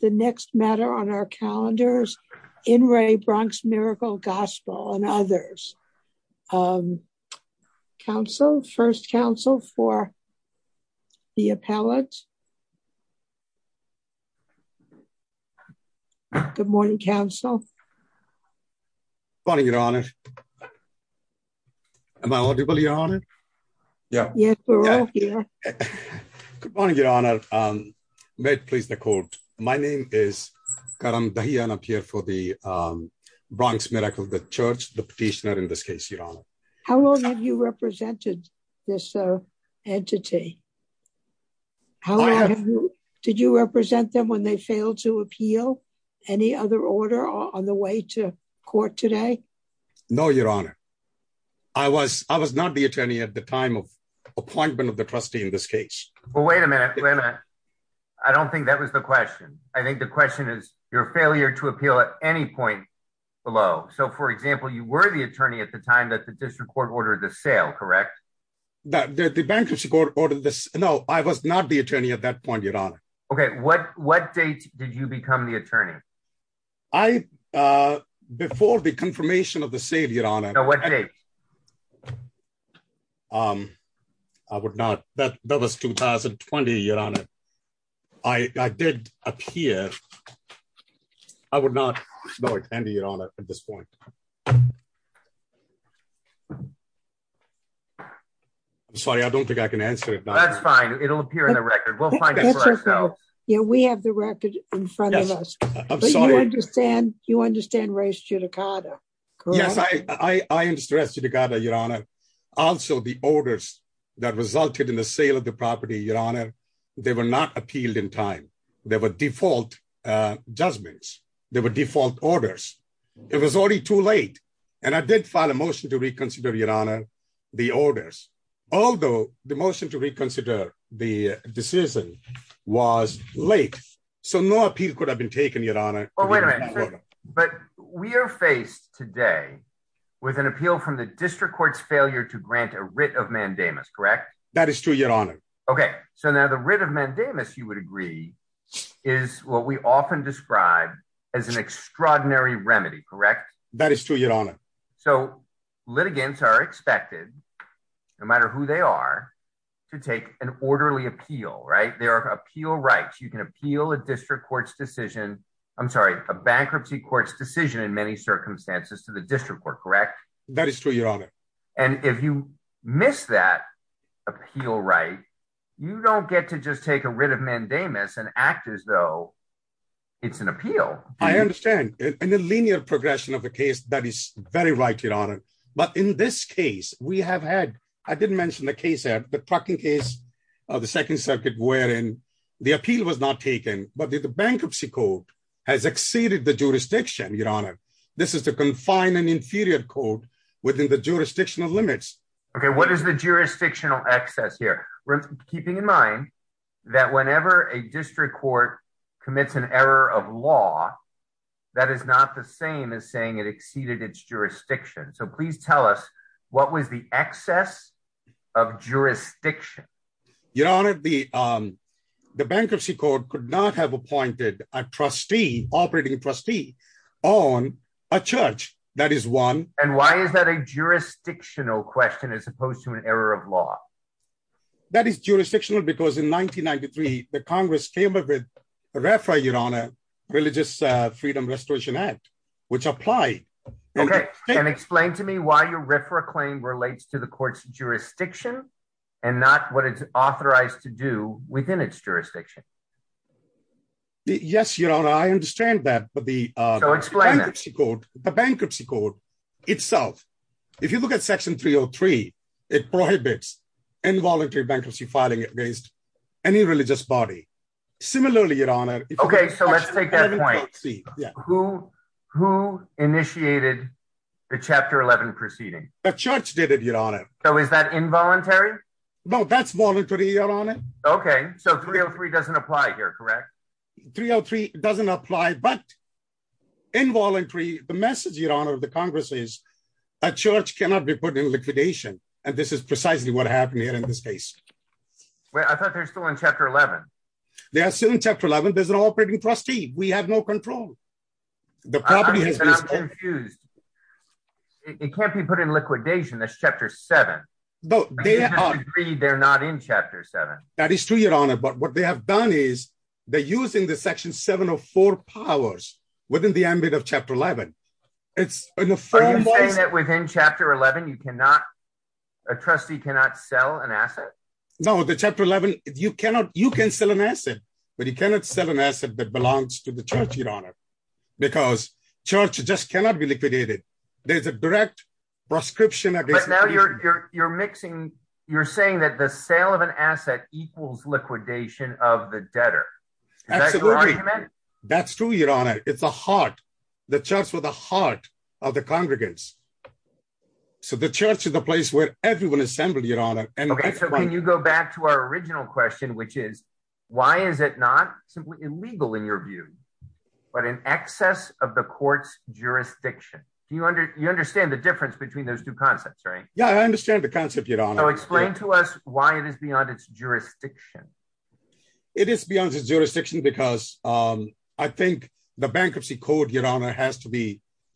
The next matter on our calendars in Ray Bronx Miracle Gospel and others. Council first Council for the appellate. Good morning Council. Funny your honor. Am I audible your honor. Yeah. Yes, we're all here. Good morning, Your Honor. May it please the court. My name is. I'm up here for the Bronx Miracle the church, the petitioner in this case your honor. How long have you represented this entity. How did you represent them when they failed to appeal. Any other order on the way to court today. No, Your Honor. I was, I was not the attorney at the time of appointment of the trustee in this case, but wait a minute, wait a minute. I don't think that was the question. I think the question is your failure to appeal at any point below. So for example, you were the attorney at the time that the district court ordered the sale correct that the bankruptcy court ordered this. No, I was not the attorney at that point, Your Honor. Okay, what, what date, did you become the attorney. I. Before the confirmation of the savior on it. I would not that that was 2020 year on it. I did appear. I would not know it and you're on it at this point. Sorry, I don't think I can answer it, but that's fine, it'll appear in the record, we'll find out. Yeah, we have the record in front of us. I'm sorry I understand you understand race judicata. Yes, I, I am stressed you to gather your honor. Also the orders that resulted in the sale of the property your honor. They were not appealed in time. There were default judgments. There were default orders. It was already too late. And I did file a motion to reconsider your honor. The orders, although the motion to reconsider the decision was late. So no appeal could have been taken your honor. Oh wait a minute. But we are faced today with an appeal from the district courts failure to grant a writ of mandamus correct. That is true your honor. Okay, so now the writ of mandamus you would agree is what we often describe as an extraordinary remedy correct. That is true your honor. So, litigants are expected, no matter who they are to take an orderly appeal right there are appeal rights you can appeal a district courts decision. I'm sorry, a bankruptcy courts decision in many circumstances to the district court correct. That is true your honor. And if you miss that appeal right, you don't get to just take a writ of mandamus and act as though it's an appeal. I understand in a linear progression of the case that is very right your honor. But in this case, we have had, I didn't mention the case at the parking case of the Second Circuit wherein the appeal was not taken, but the bankruptcy court has exceeded the jurisdiction your honor. This is to confine an inferior code within the jurisdictional limits. Okay, what is the jurisdictional access here. We're keeping in mind that whenever a district court commits an error of law. That is not the same as saying it exceeded its jurisdiction so please tell us what was the excess of jurisdiction, your honor, the, the bankruptcy court could not have appointed a trustee operating trustee on a church, that is one, and why is that a jurisdictional question as opposed to an error of law. That is jurisdictional because in 1993, the Congress came up with a referee your honor religious freedom restoration act, which apply. Okay, and explain to me why your refer a claim relates to the court's jurisdiction, and not what it's authorized to do within its jurisdiction. Yes, your honor I understand that, but the bankruptcy court, the bankruptcy court itself. If you look at section 303, it prohibits involuntary bankruptcy filing against any religious body. Similarly, your honor. Okay, so let's take that point. Who, who initiated the chapter 11 proceeding, a church did it your honor. So is that involuntary. No, that's voluntary on it. Okay, so 303 doesn't apply here correct 303 doesn't apply but involuntary the message your honor the Congress is a church cannot be put in liquidation. And this is precisely what happened here in this case. I thought they're still in chapter 11. They are still in chapter 11 there's an operating trustee, we have no control. The property has been used. It can't be put in liquidation this chapter seven. No, they are agreed they're not in chapter seven, that is to your honor but what they have done is they're using the section 704 powers within the ambit of chapter 11. It's within chapter 11 you cannot a trustee cannot sell an asset. No, the chapter 11, you cannot you can sell an asset, but you cannot sell an asset that belongs to the church your honor, because church just cannot be liquidated. There's a direct prescription I guess now you're, you're mixing. You're saying that the sale of an asset equals liquidation of the debtor. That's true your honor, it's a heart, the church with a heart of the congregants. So the church is the place where everyone assembled your honor, and you go back to our original question which is, why is it not simply illegal in your view, but in excess of the courts jurisdiction. Do you under you understand the difference between those two concepts right yeah I understand the concept you don't know explain to us why it is beyond its jurisdiction. It is beyond the jurisdiction because I think the bankruptcy code your honor has to be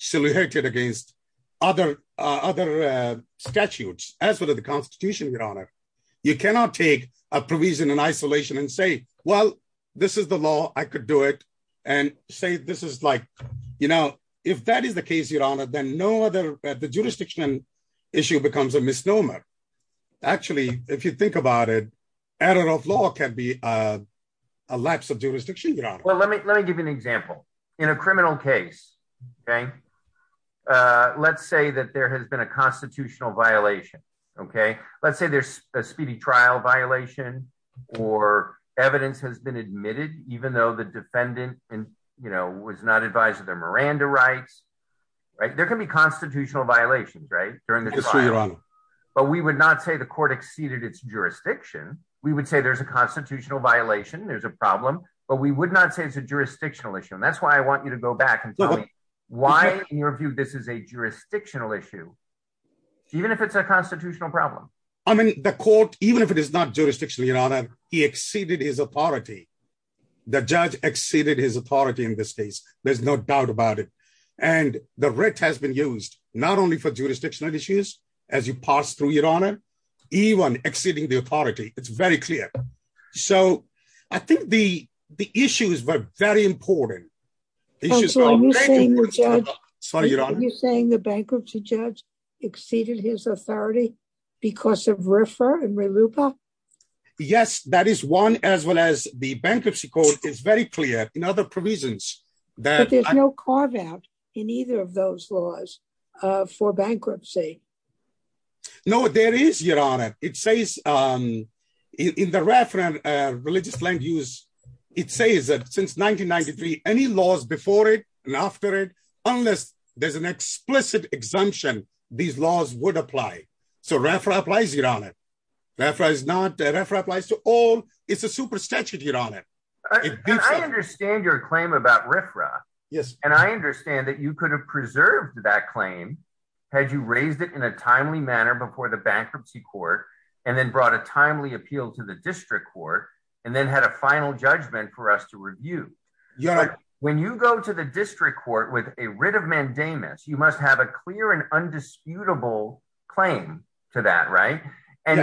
silhouetted against other other statutes, as well as the Constitution, your honor. You cannot take a provision in isolation and say, well, this is the law, I could do it and say this is like, you know, if that is the case your honor then no other the jurisdiction issue becomes a misnomer. Actually, if you think about it. I don't know if law can be a lapse of jurisdiction, you know, well let me let me give you an example in a criminal case. Okay. Let's say that there has been a constitutional violation. Okay, let's say there's a speedy trial violation or evidence has been admitted, even though the defendant, and, you know, was not advised their Miranda rights. Right, there can be constitutional violations right during the trial. But we would not say the court exceeded its jurisdiction, we would say there's a constitutional violation there's a problem, but we would not say it's a jurisdictional issue and that's why I want you to go back and tell me why, in your view, this is a jurisdictional issue. Even if it's a constitutional problem. I mean, the court, even if it is not jurisdiction, your honor, he exceeded his authority. The judge exceeded his authority in this case, there's no doubt about it. And the rate has been used, not only for jurisdictional issues, as you pass through your honor, even exceeding the authority, it's very clear. So, I think the, the issues were very important. So you're saying the bankruptcy judge exceeded his authority because of refer and re looper. Yes, that is one, as well as the bankruptcy code is very clear in other provisions that there's no carve out in either of those laws for bankruptcy. No, there is your honor, it says in the reference religious land use. It says that since 1993, any laws before it, and after it, unless there's an explicit exemption, these laws would apply. So reference applies it on it. That's right, it's not that ever applies to all, it's a super statute, you know that I understand your claim about refra. Yes, and I understand that you could have preserved that claim, had you raised it in a timely manner before the bankruptcy court, and then brought a timely appeal to the district court, and then had a final judgment for us to review. Yeah. When you go to the district court with a writ of mandamus you must have a clear and undisputable claim to that right. And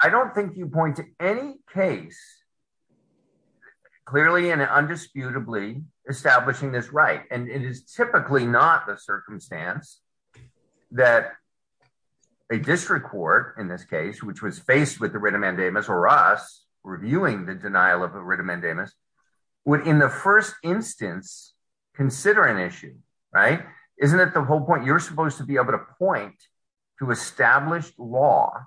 I don't think you point to any case, clearly and undisputably establishing this right and it is typically not the circumstance that a district court in this case which was faced with the writ of mandamus or us reviewing the denial of a writ of mandamus would in the first instance, consider an issue. Right. Isn't it the whole point you're supposed to be able to point to established law,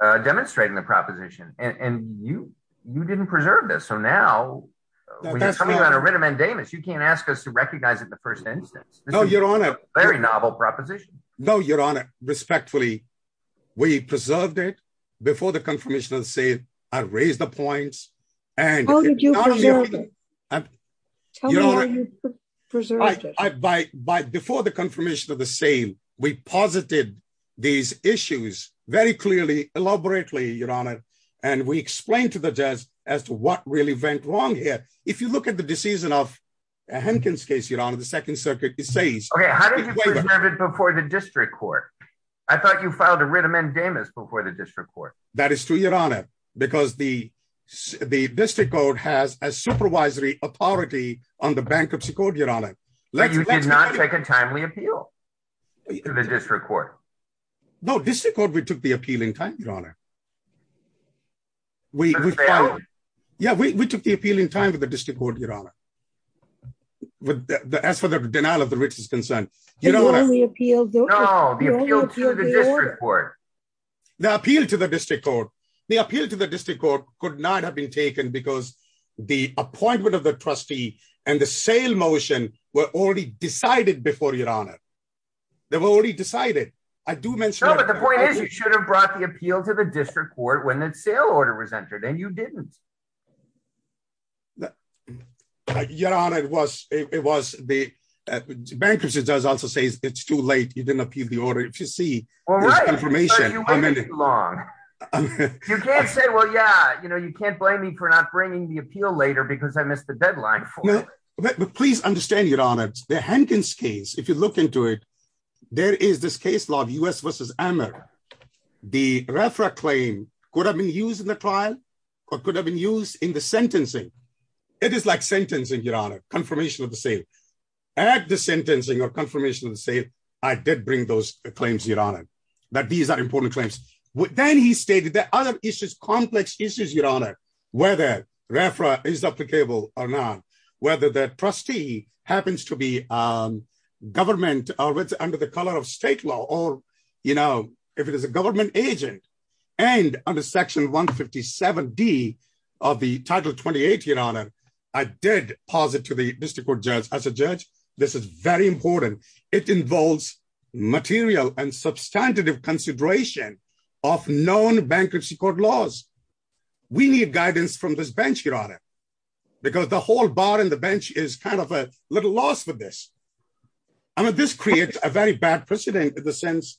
demonstrating the proposition, and you, you didn't preserve this so now we have a writ of mandamus you can't ask us to recognize it the first instance. No, Your Honor, very novel proposition. No, Your Honor, respectfully, we preserved it before the confirmation of the same. I raised the points, and you know, by, by before the confirmation of the same. And we posited these issues, very clearly, elaborately, Your Honor, and we explained to the judge as to what really went wrong here. If you look at the decision of Hankins case you're on the second circuit, it says, before the district court. I thought you filed a writ of mandamus before the district court. That is true, Your Honor, because the, the district code has a supervisory authority on the bankruptcy court, Your Honor. But you did not take a timely appeal to the district court. No, district court we took the appeal in time, Your Honor. Yeah, we took the appeal in time with the district court, Your Honor. As for the denial of the writ is concerned, you know, the appeal to the district court, the appeal to the district court, the appeal to the district court could not have been taken because the appointment of the trustee, and the sale motion, were already decided before, Your Honor. They were already decided. I do mention... No, but the point is you should have brought the appeal to the district court when the sale order was entered and you didn't. Your Honor, it was, it was the bankruptcy judge also says it's too late, you didn't appeal the order. If you see this information... Well, right, but you waited too long. You can't say, well, yeah, you know, you can't blame me for not bringing the appeal later because I missed the deadline for it. Please understand, Your Honor, the Hankins case, if you look into it, there is this case law of US versus Amer. The RFRA claim could have been used in the trial, or could have been used in the sentencing. It is like sentencing, Your Honor, confirmation of the sale. At the sentencing or confirmation of the sale, I did bring those claims, Your Honor. But these are important claims. Then he stated that other issues, complex issues, Your Honor, whether RFRA is applicable or not, whether that trustee happens to be government, or it's under the color of state law, or, you know, if it is a government agent, and under Section 157D of the Title 28, Your Honor, I did posit to the district court judge, I said, judge, this is very important. It involves material and substantive consideration of known bankruptcy court laws. We need guidance from this bench, Your Honor, because the whole bar on the bench is kind of a little lost with this. I mean, this creates a very bad precedent in the sense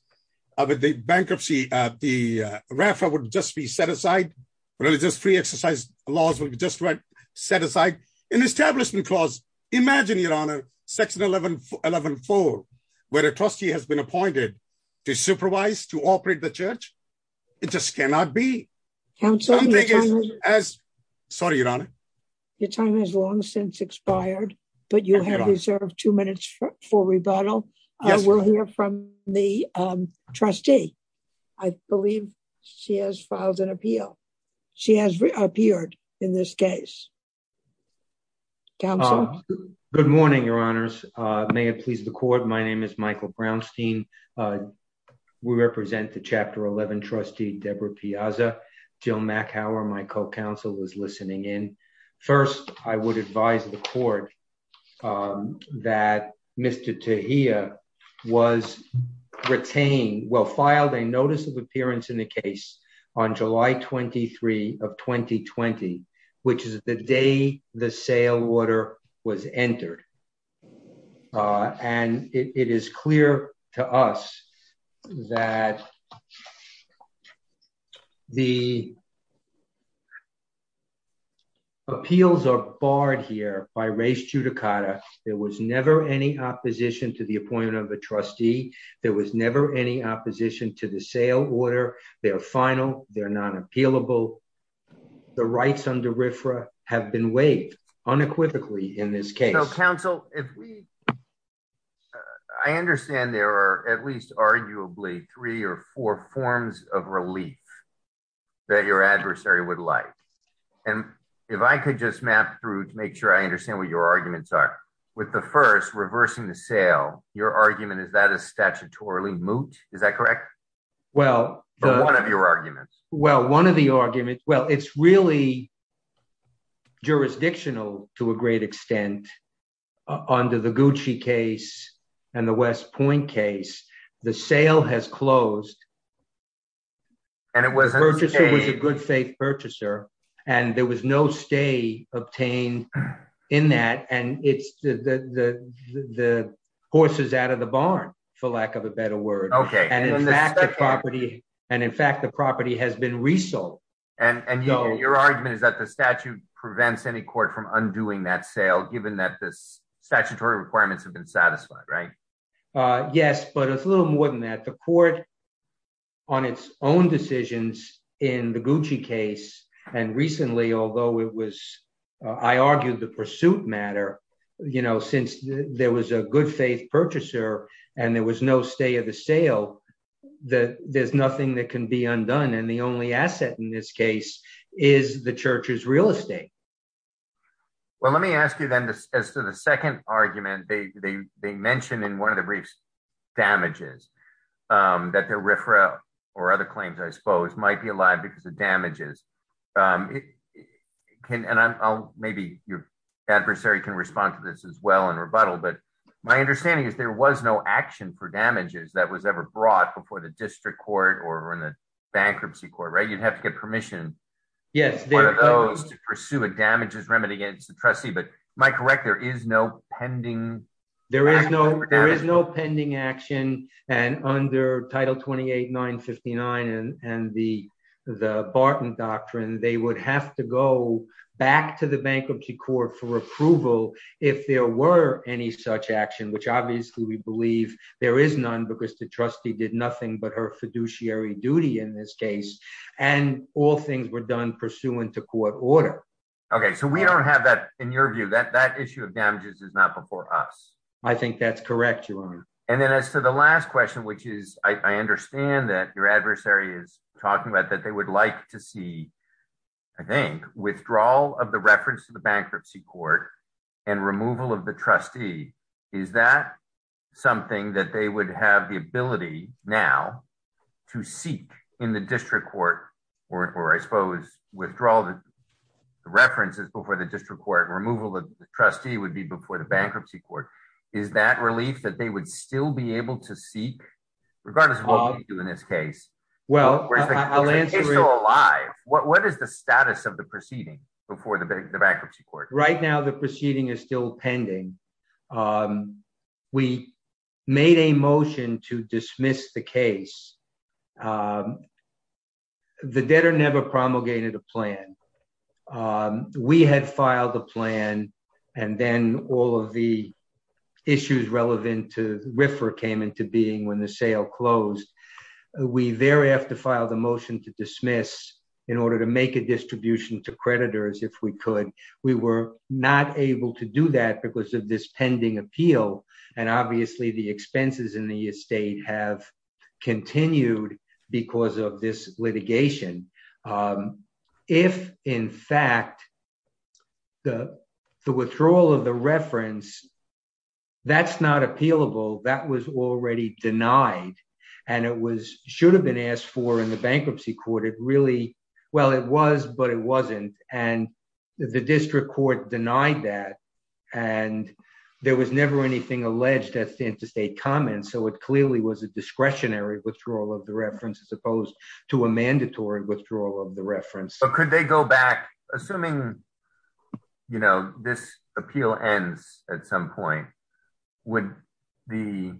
of the bankruptcy, the RFRA would just be set aside. Religious free exercise laws would just be set aside. An establishment clause, imagine, Your Honor, Section 114, where a trustee has been appointed to supervise, to operate the church. It just cannot be. Sorry, Your Honor. Your time has long since expired, but you have reserved two minutes for rebuttal. We'll hear from the trustee. I believe she has filed an appeal. She has reappeared in this case. Counsel? Good morning, Your Honors. May it please the court. My name is Michael Brownstein. We represent the Chapter 11 trustee, Deborah Piazza. Jill MacHoward, my co-counsel, is listening in. First, I would advise the court that Mr. Tejia was retained, well, filed a notice of appearance in the case on July 23 of 2020, which is the day the sale order was entered. And it is clear to us that the appeals are barred here by res judicata. There was never any opposition to the appointment of a trustee. There was never any opposition to the sale order. They're final. They're not appealable. The rights under RFRA have been waived unequivocally in this case. So, counsel, if we... I understand there are at least arguably three or four forms of relief that your adversary would like. And if I could just map through to make sure I understand what your arguments are. With the first, reversing the sale, your argument is that a statutorily moot? Is that correct? Well... Or one of your arguments. Well, one of the arguments... Well, it's really jurisdictional to a great extent under the Gucci case and the West Point case. The sale has closed. And it was... The purchaser was a good faith purchaser. And there was no stay obtained in that. And it's the horses out of the barn, for lack of a better word. And in fact, the property has been resold. And your argument is that the statute prevents any court from undoing that sale, given that this statutory requirements have been satisfied, right? Yes. But it's a little more than that. The court, on its own decisions in the Gucci case, and recently, although it was... I argued the pursuit matter, you know, since there was a good faith purchaser and there was no stay of the sale, that there's nothing that can be undone. And the only asset in this case is the church's real estate. Well, let me ask you then, as to the second argument, they mentioned in one of the briefs, damages, that the RFRA or other claims, I suppose, might be alive because of damages. And maybe your adversary can respond to this as well in rebuttal. But my understanding is there was no action for damages that was ever brought before the district court or in the bankruptcy court, right? You'd have to get permission. Yes. For those to pursue a damages remedy against the trustee. But am I correct, there is no pending action? There is no pending action. And under Title 28-959 and the Barton Doctrine, they would have to go back to the bankruptcy court for approval if there were any such action. Which obviously we believe there is none because the trustee did nothing but her fiduciary duty in this case. And all things were done pursuant to court order. OK, so we don't have that in your view, that that issue of damages is not before us. I think that's correct. And then as to the last question, which is I understand that your adversary is talking about that they would like to see, I think, withdrawal of the reference to the bankruptcy court and removal of the trustee. Is that something that they would have the ability now to seek in the district court or, I suppose, withdrawal the references before the district court and removal of the trustee would be before the bankruptcy court? Is that relief that they would still be able to seek, regardless of what we do in this case? Well, I'll answer. If the case is still alive, what is the status of the proceeding before the bankruptcy court? Right now, the proceeding is still pending. We made a motion to dismiss the case. The debtor never promulgated a plan. We had filed a plan and then all of the issues relevant to RFRA came into being when the sale closed. We thereafter filed a motion to dismiss in order to make a distribution to creditors if we could. We were not able to do that because of this pending appeal. And obviously, the expenses in the estate have continued because of this litigation. If, in fact, the withdrawal of the reference, that's not appealable, that was already denied and it should have been asked for in the bankruptcy court. It really well, it was, but it wasn't. And the district court denied that. And there was never anything alleged at the interstate comments. So it clearly was a discretionary withdrawal of the reference as opposed to a mandatory withdrawal of the reference. But could they go back, assuming, you know, this appeal ends at some point? Would the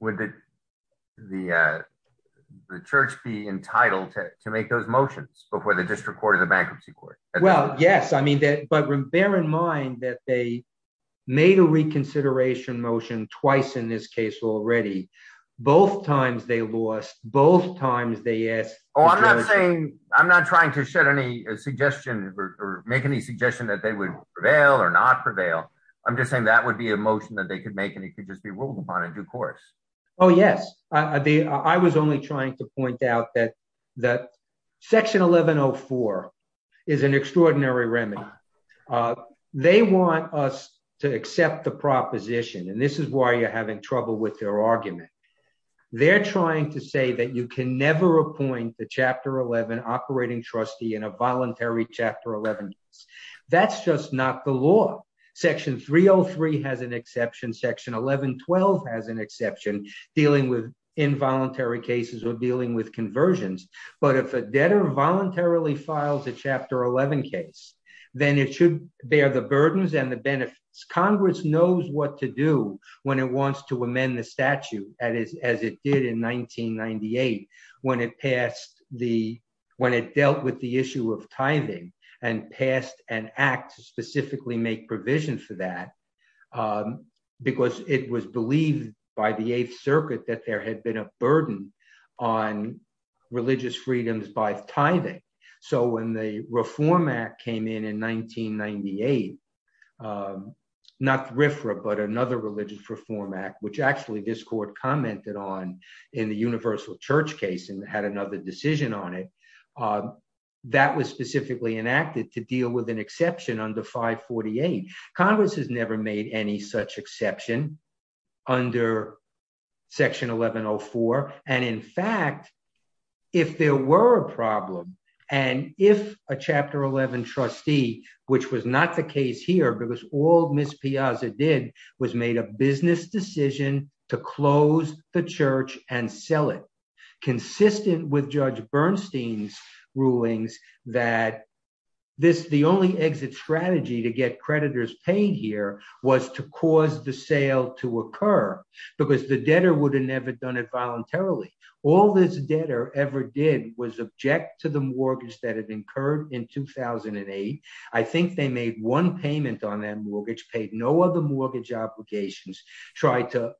would the the church be entitled to make those motions before the district court of the bankruptcy court? Well, yes. I mean, but bear in mind that they made a reconsideration motion twice in this case already. Both times they lost. Both times they asked. Oh, I'm not saying I'm not trying to shed any suggestion or make any suggestion that they would prevail or not prevail. I'm just saying that would be a motion that they could make and it could just be ruled upon a due course. Oh, yes. I was only trying to point out that that section 1104 is an extraordinary remedy. They want us to accept the proposition, and this is why you're having trouble with their argument. They're trying to say that you can never appoint the chapter 11 operating trustee in a voluntary chapter 11. That's just not the law. Section 303 has an exception. Section 1112 has an exception dealing with involuntary cases or dealing with conversions. But if a debtor voluntarily files a chapter 11 case, then it should bear the burdens and the benefits. Congress knows what to do when it wants to amend the statute. And as it did in 1998, when it passed the when it dealt with the issue of tithing and passed an act to specifically make provision for that, because it was believed by the Eighth Circuit that there had been a burden on religious freedoms by tithing. So when the Reform Act came in in 1998, not RFRA, but another religious reform act, which actually this court commented on in the Universal Church case and had another decision on it, that was specifically enacted to deal with an exception under 548. Congress has never made any such exception under Section 1104. And in fact, if there were a problem and if a chapter 11 trustee, which was not the case here, because all Ms. Piazza did was made a business decision to close the church and sell it, consistent with Judge Bernstein's rulings that the only exit strategy to get creditors paid here was to cause the sale to occur because the debtor would have never done it voluntarily. All this debtor ever did was object to the mortgage that had been incurred in 2008. I think they made one payment on that mortgage, paid no other mortgage obligations, tried to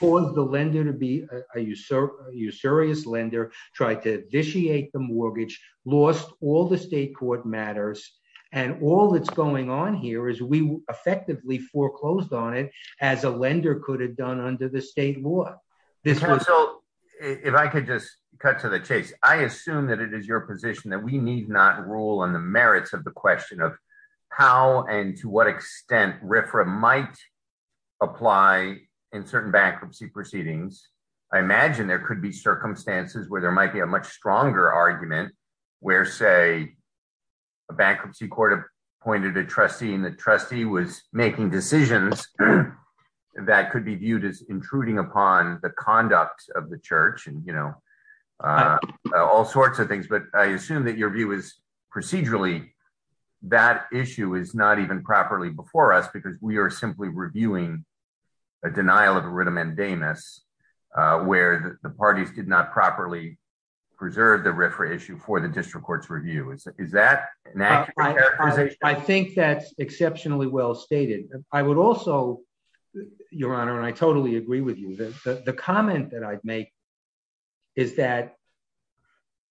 cause the lender to be a usurious lender, tried to initiate the mortgage, lost all the state court matters. And all that's going on here is we effectively foreclosed on it as a lender could have done under the state law. If I could just cut to the chase, I assume that it is your position that we need not rule on the merits of the question of how and to what extent RFRA might apply in certain bankruptcy proceedings. I imagine there could be circumstances where there might be a much stronger argument where, say, a bankruptcy court appointed a trustee and the trustee was making decisions that could be viewed as intruding upon the conduct of the church and, you know, all sorts of things. But I assume that your view is procedurally that issue is not even properly before us because we are simply reviewing a denial of a writ amendamus where the parties did not properly preserve the RFRA issue for the district court's review. Is that an accurate characterization? I think that's exceptionally well stated. I would also, Your Honor, and I totally agree with you, the comment that I'd make is that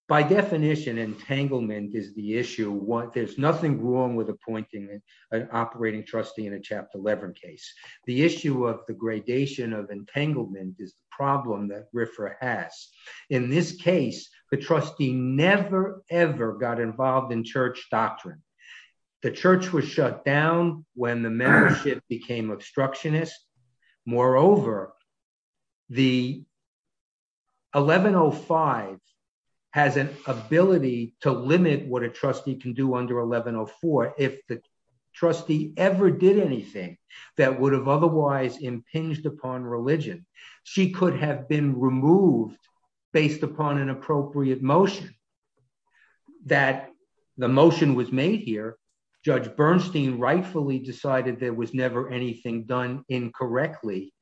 by definition entanglement is the issue. There's nothing wrong with appointing an operating trustee in a Chapter 11 case. The issue of the gradation of entanglement is the problem that RFRA has. In this case, the trustee never, ever got involved in church doctrine. The church was shut down when the membership became obstructionist. Moreover, the 1105 has an ability to limit what a trustee can do under 1104. If the trustee ever did anything that would have otherwise impinged upon religion, she could have been removed based upon an appropriate motion. That the motion was made here. Judge Bernstein rightfully decided there was never anything done incorrectly,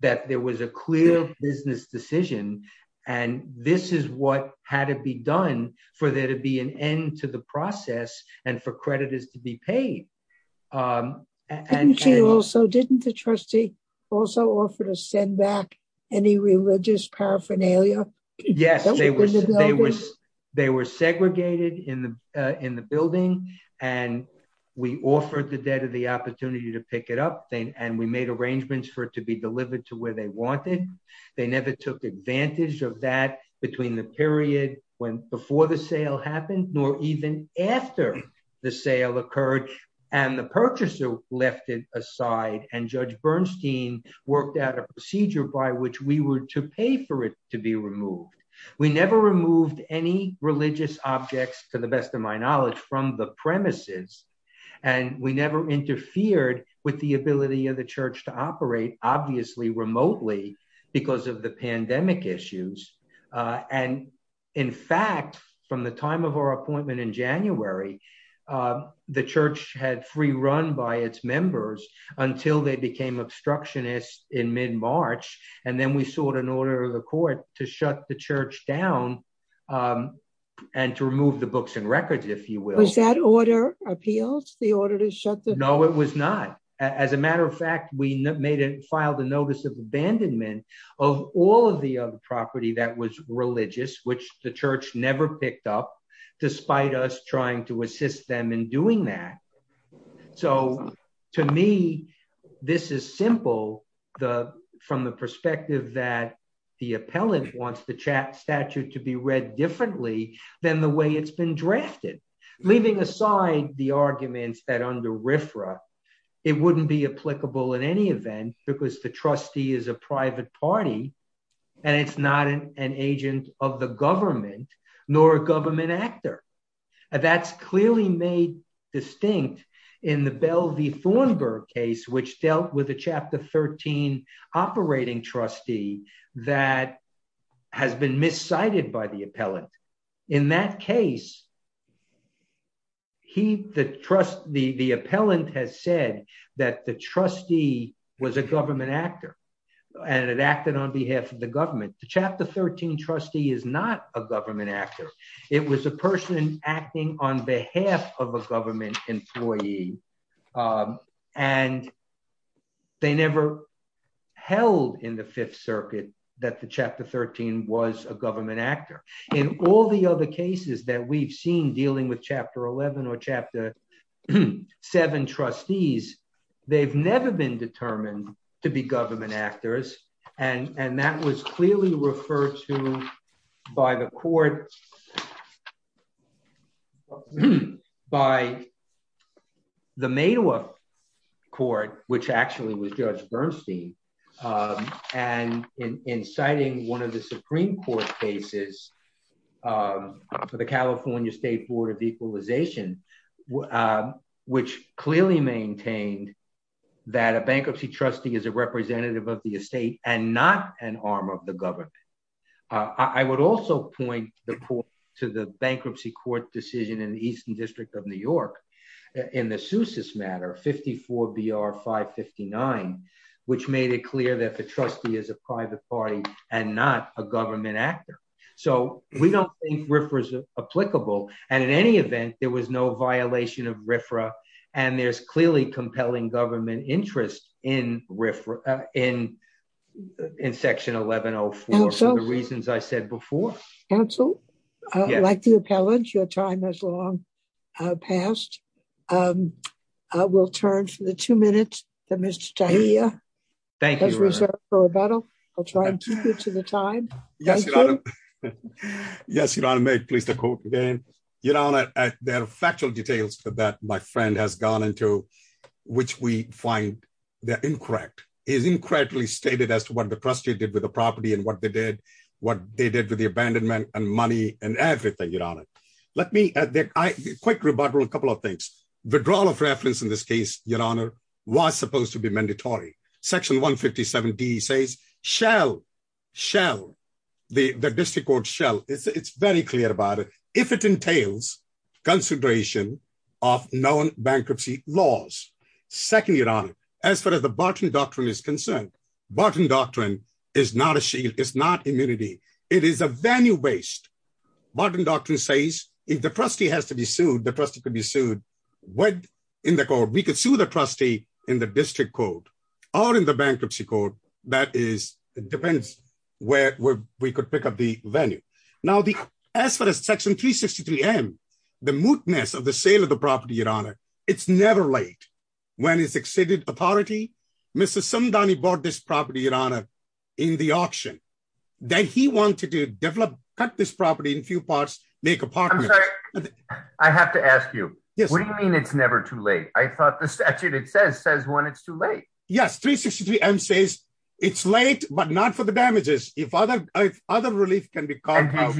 that there was a clear business decision. And this is what had to be done for there to be an end to the process and for creditors to be paid. Didn't the trustee also offer to send back any religious paraphernalia? Yes, they were segregated in the building and we offered the debtor the opportunity to pick it up. And we made arrangements for it to be delivered to where they wanted. They never took advantage of that between the period when before the sale happened, nor even after the sale occurred. And the purchaser left it aside and Judge Bernstein worked out a procedure by which we were to pay for it to be removed. We never removed any religious objects, to the best of my knowledge, from the premises. And we never interfered with the ability of the church to operate, obviously, remotely because of the pandemic issues. And in fact, from the time of our appointment in January, the church had free run by its members until they became obstructionists in mid-March. And then we sought an order of the court to shut the church down and to remove the books and records, if you will. Was that order appealed? The order to shut the... That was religious, which the church never picked up, despite us trying to assist them in doing that. So to me, this is simple from the perspective that the appellant wants the statute to be read differently than the way it's been drafted. Leaving aside the arguments that under RFRA, it wouldn't be applicable in any event because the trustee is a private party and it's not an agent of the government, nor a government actor. That's clearly made distinct in the Bell v. Thornburg case, which dealt with a Chapter 13 operating trustee that has been miscited by the appellant. In that case, the appellant has said that the trustee was a government actor and it acted on behalf of the government. The Chapter 13 trustee is not a government actor. It was a person acting on behalf of a government employee, and they never held in the Fifth Circuit that the Chapter 13 was a government actor. In all the other cases that we've seen dealing with Chapter 11 or Chapter 7 trustees, they've never been determined to be government actors. And that was clearly referred to by the court, by the Madoff court, which actually was Judge Bernstein, and in citing one of the Supreme Court cases for the California State Board of Equalization, which clearly maintained that a bankruptcy trustee is a representative of the estate and not an arm of the government. I would also point to the bankruptcy court decision in the Eastern District of New York in the Sousis matter, 54 B.R. 559, which made it clear that the trustee is a private party and not a government actor. So we don't think RFRA is applicable, and in any event, there was no violation of RFRA, and there's clearly compelling government interest in Section 1104 for the reasons I said before. Counsel, I'd like to appellate. Your time has long passed. I will turn for the two minutes that Mr. Tahiria has reserved for rebuttal. I'll try and keep you to the time. Yes, Your Honor. May I please quote again? Your Honor, there are factual details that my friend has gone into, which we find that incorrect. It is incorrectly stated as to what the trustee did with the property and what they did with the abandonment and money and everything, Your Honor. Let me add a quick rebuttal on a couple of things. Withdrawal of reference in this case, Your Honor, was supposed to be mandatory. Section 157D says shall, shall, the district court shall. It's very clear about it. If it entails consideration of known bankruptcy laws. Second, Your Honor, as far as the Barton Doctrine is concerned, Barton Doctrine is not a shield. It is a venue based. Barton Doctrine says if the trustee has to be sued, the trustee could be sued in the court. We could sue the trustee in the district court or in the bankruptcy court. That depends where we could pick up the venue. Now, as far as Section 363M, the mootness of the sale of the property, Your Honor, it's never late. When it's exceeded authority, Mr. Sundani bought this property, Your Honor, in the auction. Then he wanted to develop, cut this property in few parts, make apartments. I'm sorry, I have to ask you, what do you mean it's never too late? I thought the statute, it says, says when it's too late. Yes, 363M says it's late, but not for the damages. If other relief can be called out.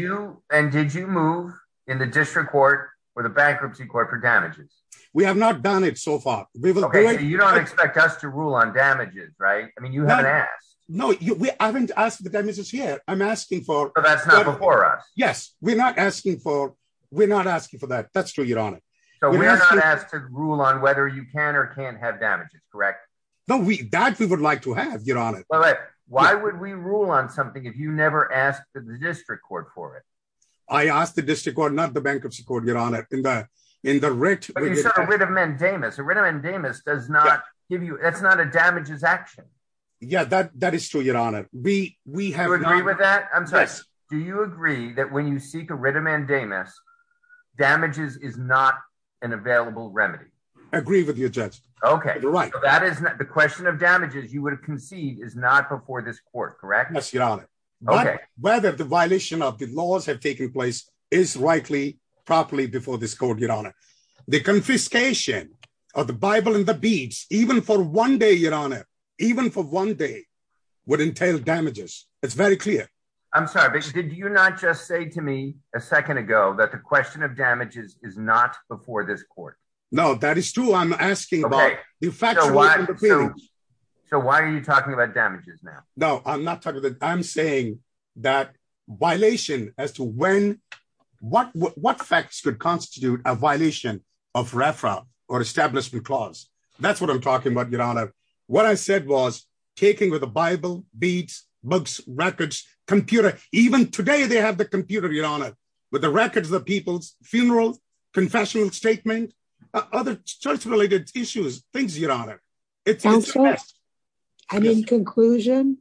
And did you move in the district court or the bankruptcy court for damages? We have not done it so far. Okay, so you don't expect us to rule on damages, right? I mean, you haven't asked. No, we haven't asked the damages yet. I'm asking for- But that's not before us. Yes, we're not asking for, we're not asking for that. That's true, Your Honor. So we're not asked to rule on whether you can or can't have damages, correct? No, that we would like to have, Your Honor. Why would we rule on something if you never asked the district court for it? I asked the district court, not the bankruptcy court, Your Honor. In the writ- But you said a writ of mandamus. A writ of mandamus does not give you, that's not a damages action. Yeah, that is true, Your Honor. We have not- Do you agree with that? I'm sorry. Yes. Do you agree that when you seek a writ of mandamus, damages is not an available remedy? I agree with you, Judge. Okay. You're right. That is, the question of damages you would concede is not before this court, correct? Yes, Your Honor. Okay. Whether the violation of the laws have taken place is rightly, properly before this court, Your Honor. The confiscation of the Bible and the beads, even for one day, Your Honor, even for one day, would entail damages. It's very clear. I'm sorry, but did you not just say to me a second ago that the question of damages is not before this court? No, that is true. I'm asking about- Okay. So why are you talking about damages now? No, I'm not talking about- I'm saying that violation as to when- what facts could constitute a violation of referral or establishment clause? That's what I'm talking about, Your Honor. What I said was taking with the Bible, beads, books, records, computer, even today they have the computer, Your Honor, with the records of the people's funeral, confessional statement, other church-related issues, things, Your Honor. Counselor? Yes. And in conclusion?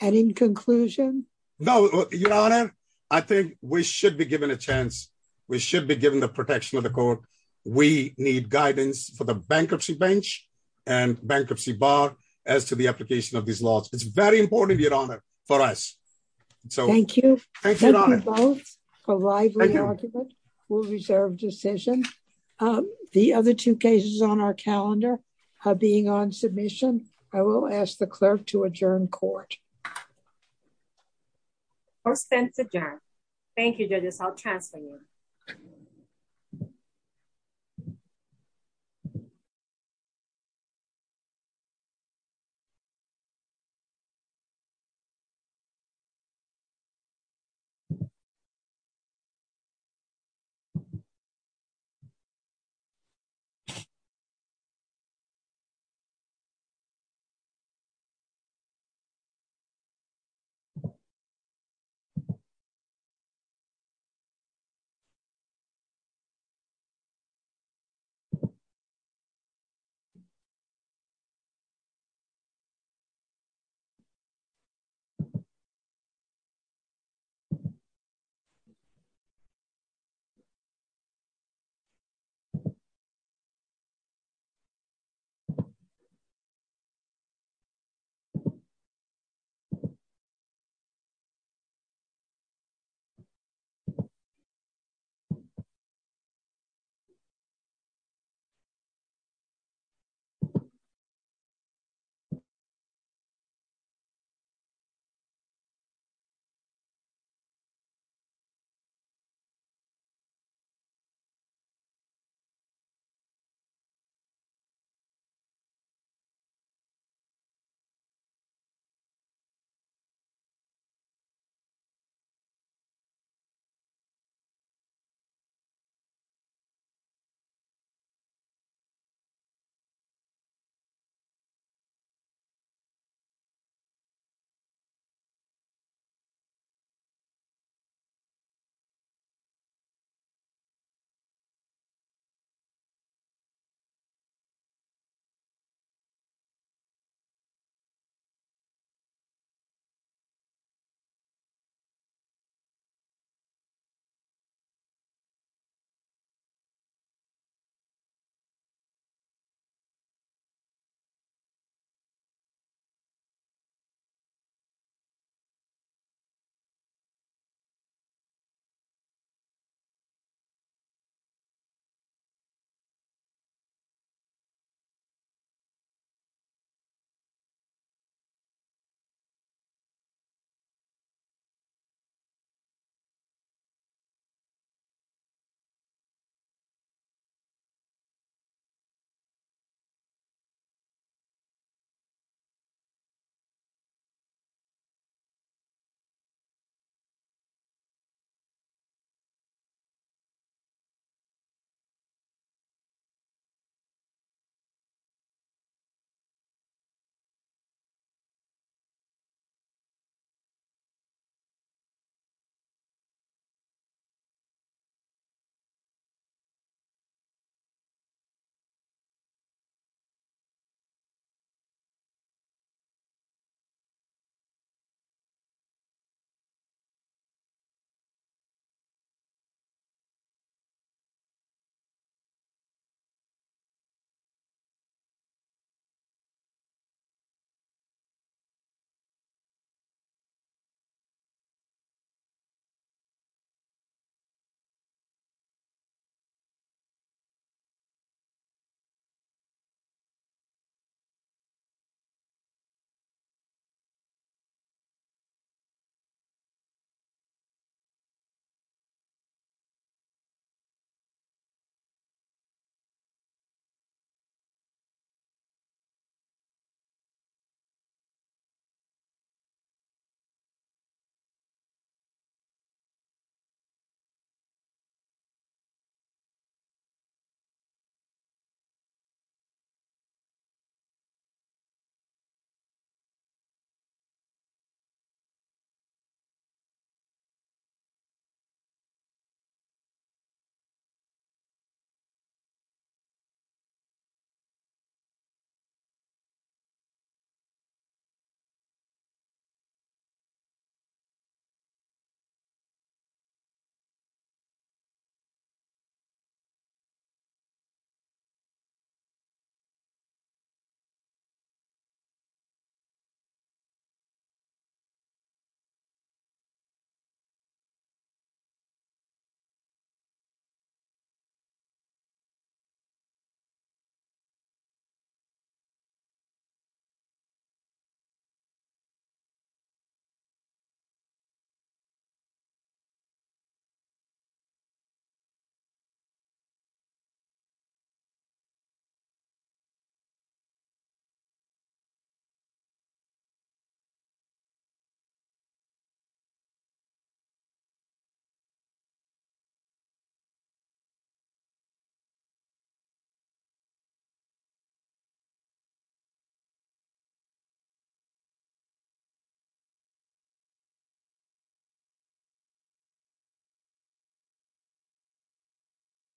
And in conclusion? No, Your Honor, I think we should be given a chance. We should be given the protection of the court. We need guidance for the bankruptcy bench and bankruptcy bar as to the application of these laws. It's very important, Your Honor, for us. Thank you. Thank you, Your Honor. Both are lively argument. We'll reserve decision. The other two cases on our calendar are being on submission. I will ask the clerk to adjourn court. Court is adjourned. Thank you, judges. I'll transfer you. Thank you.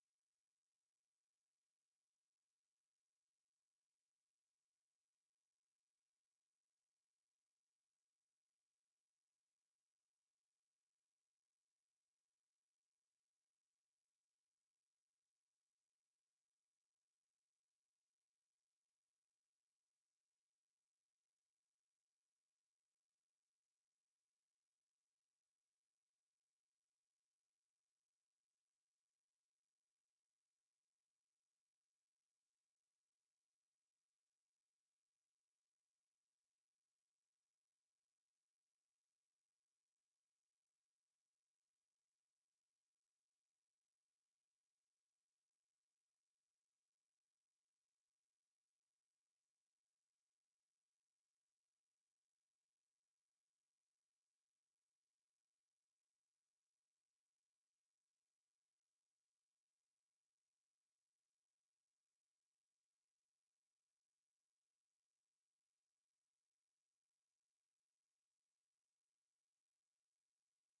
Thank you. Thank you. Thank you. Thank you. Thank you. Thank you. Thank you. Thank you. Thank you. Thank you. Thank you. Thank you. Thank you. Thank you. Thank you. Thank you. Thank you. Thank you. Thank you. Thank you.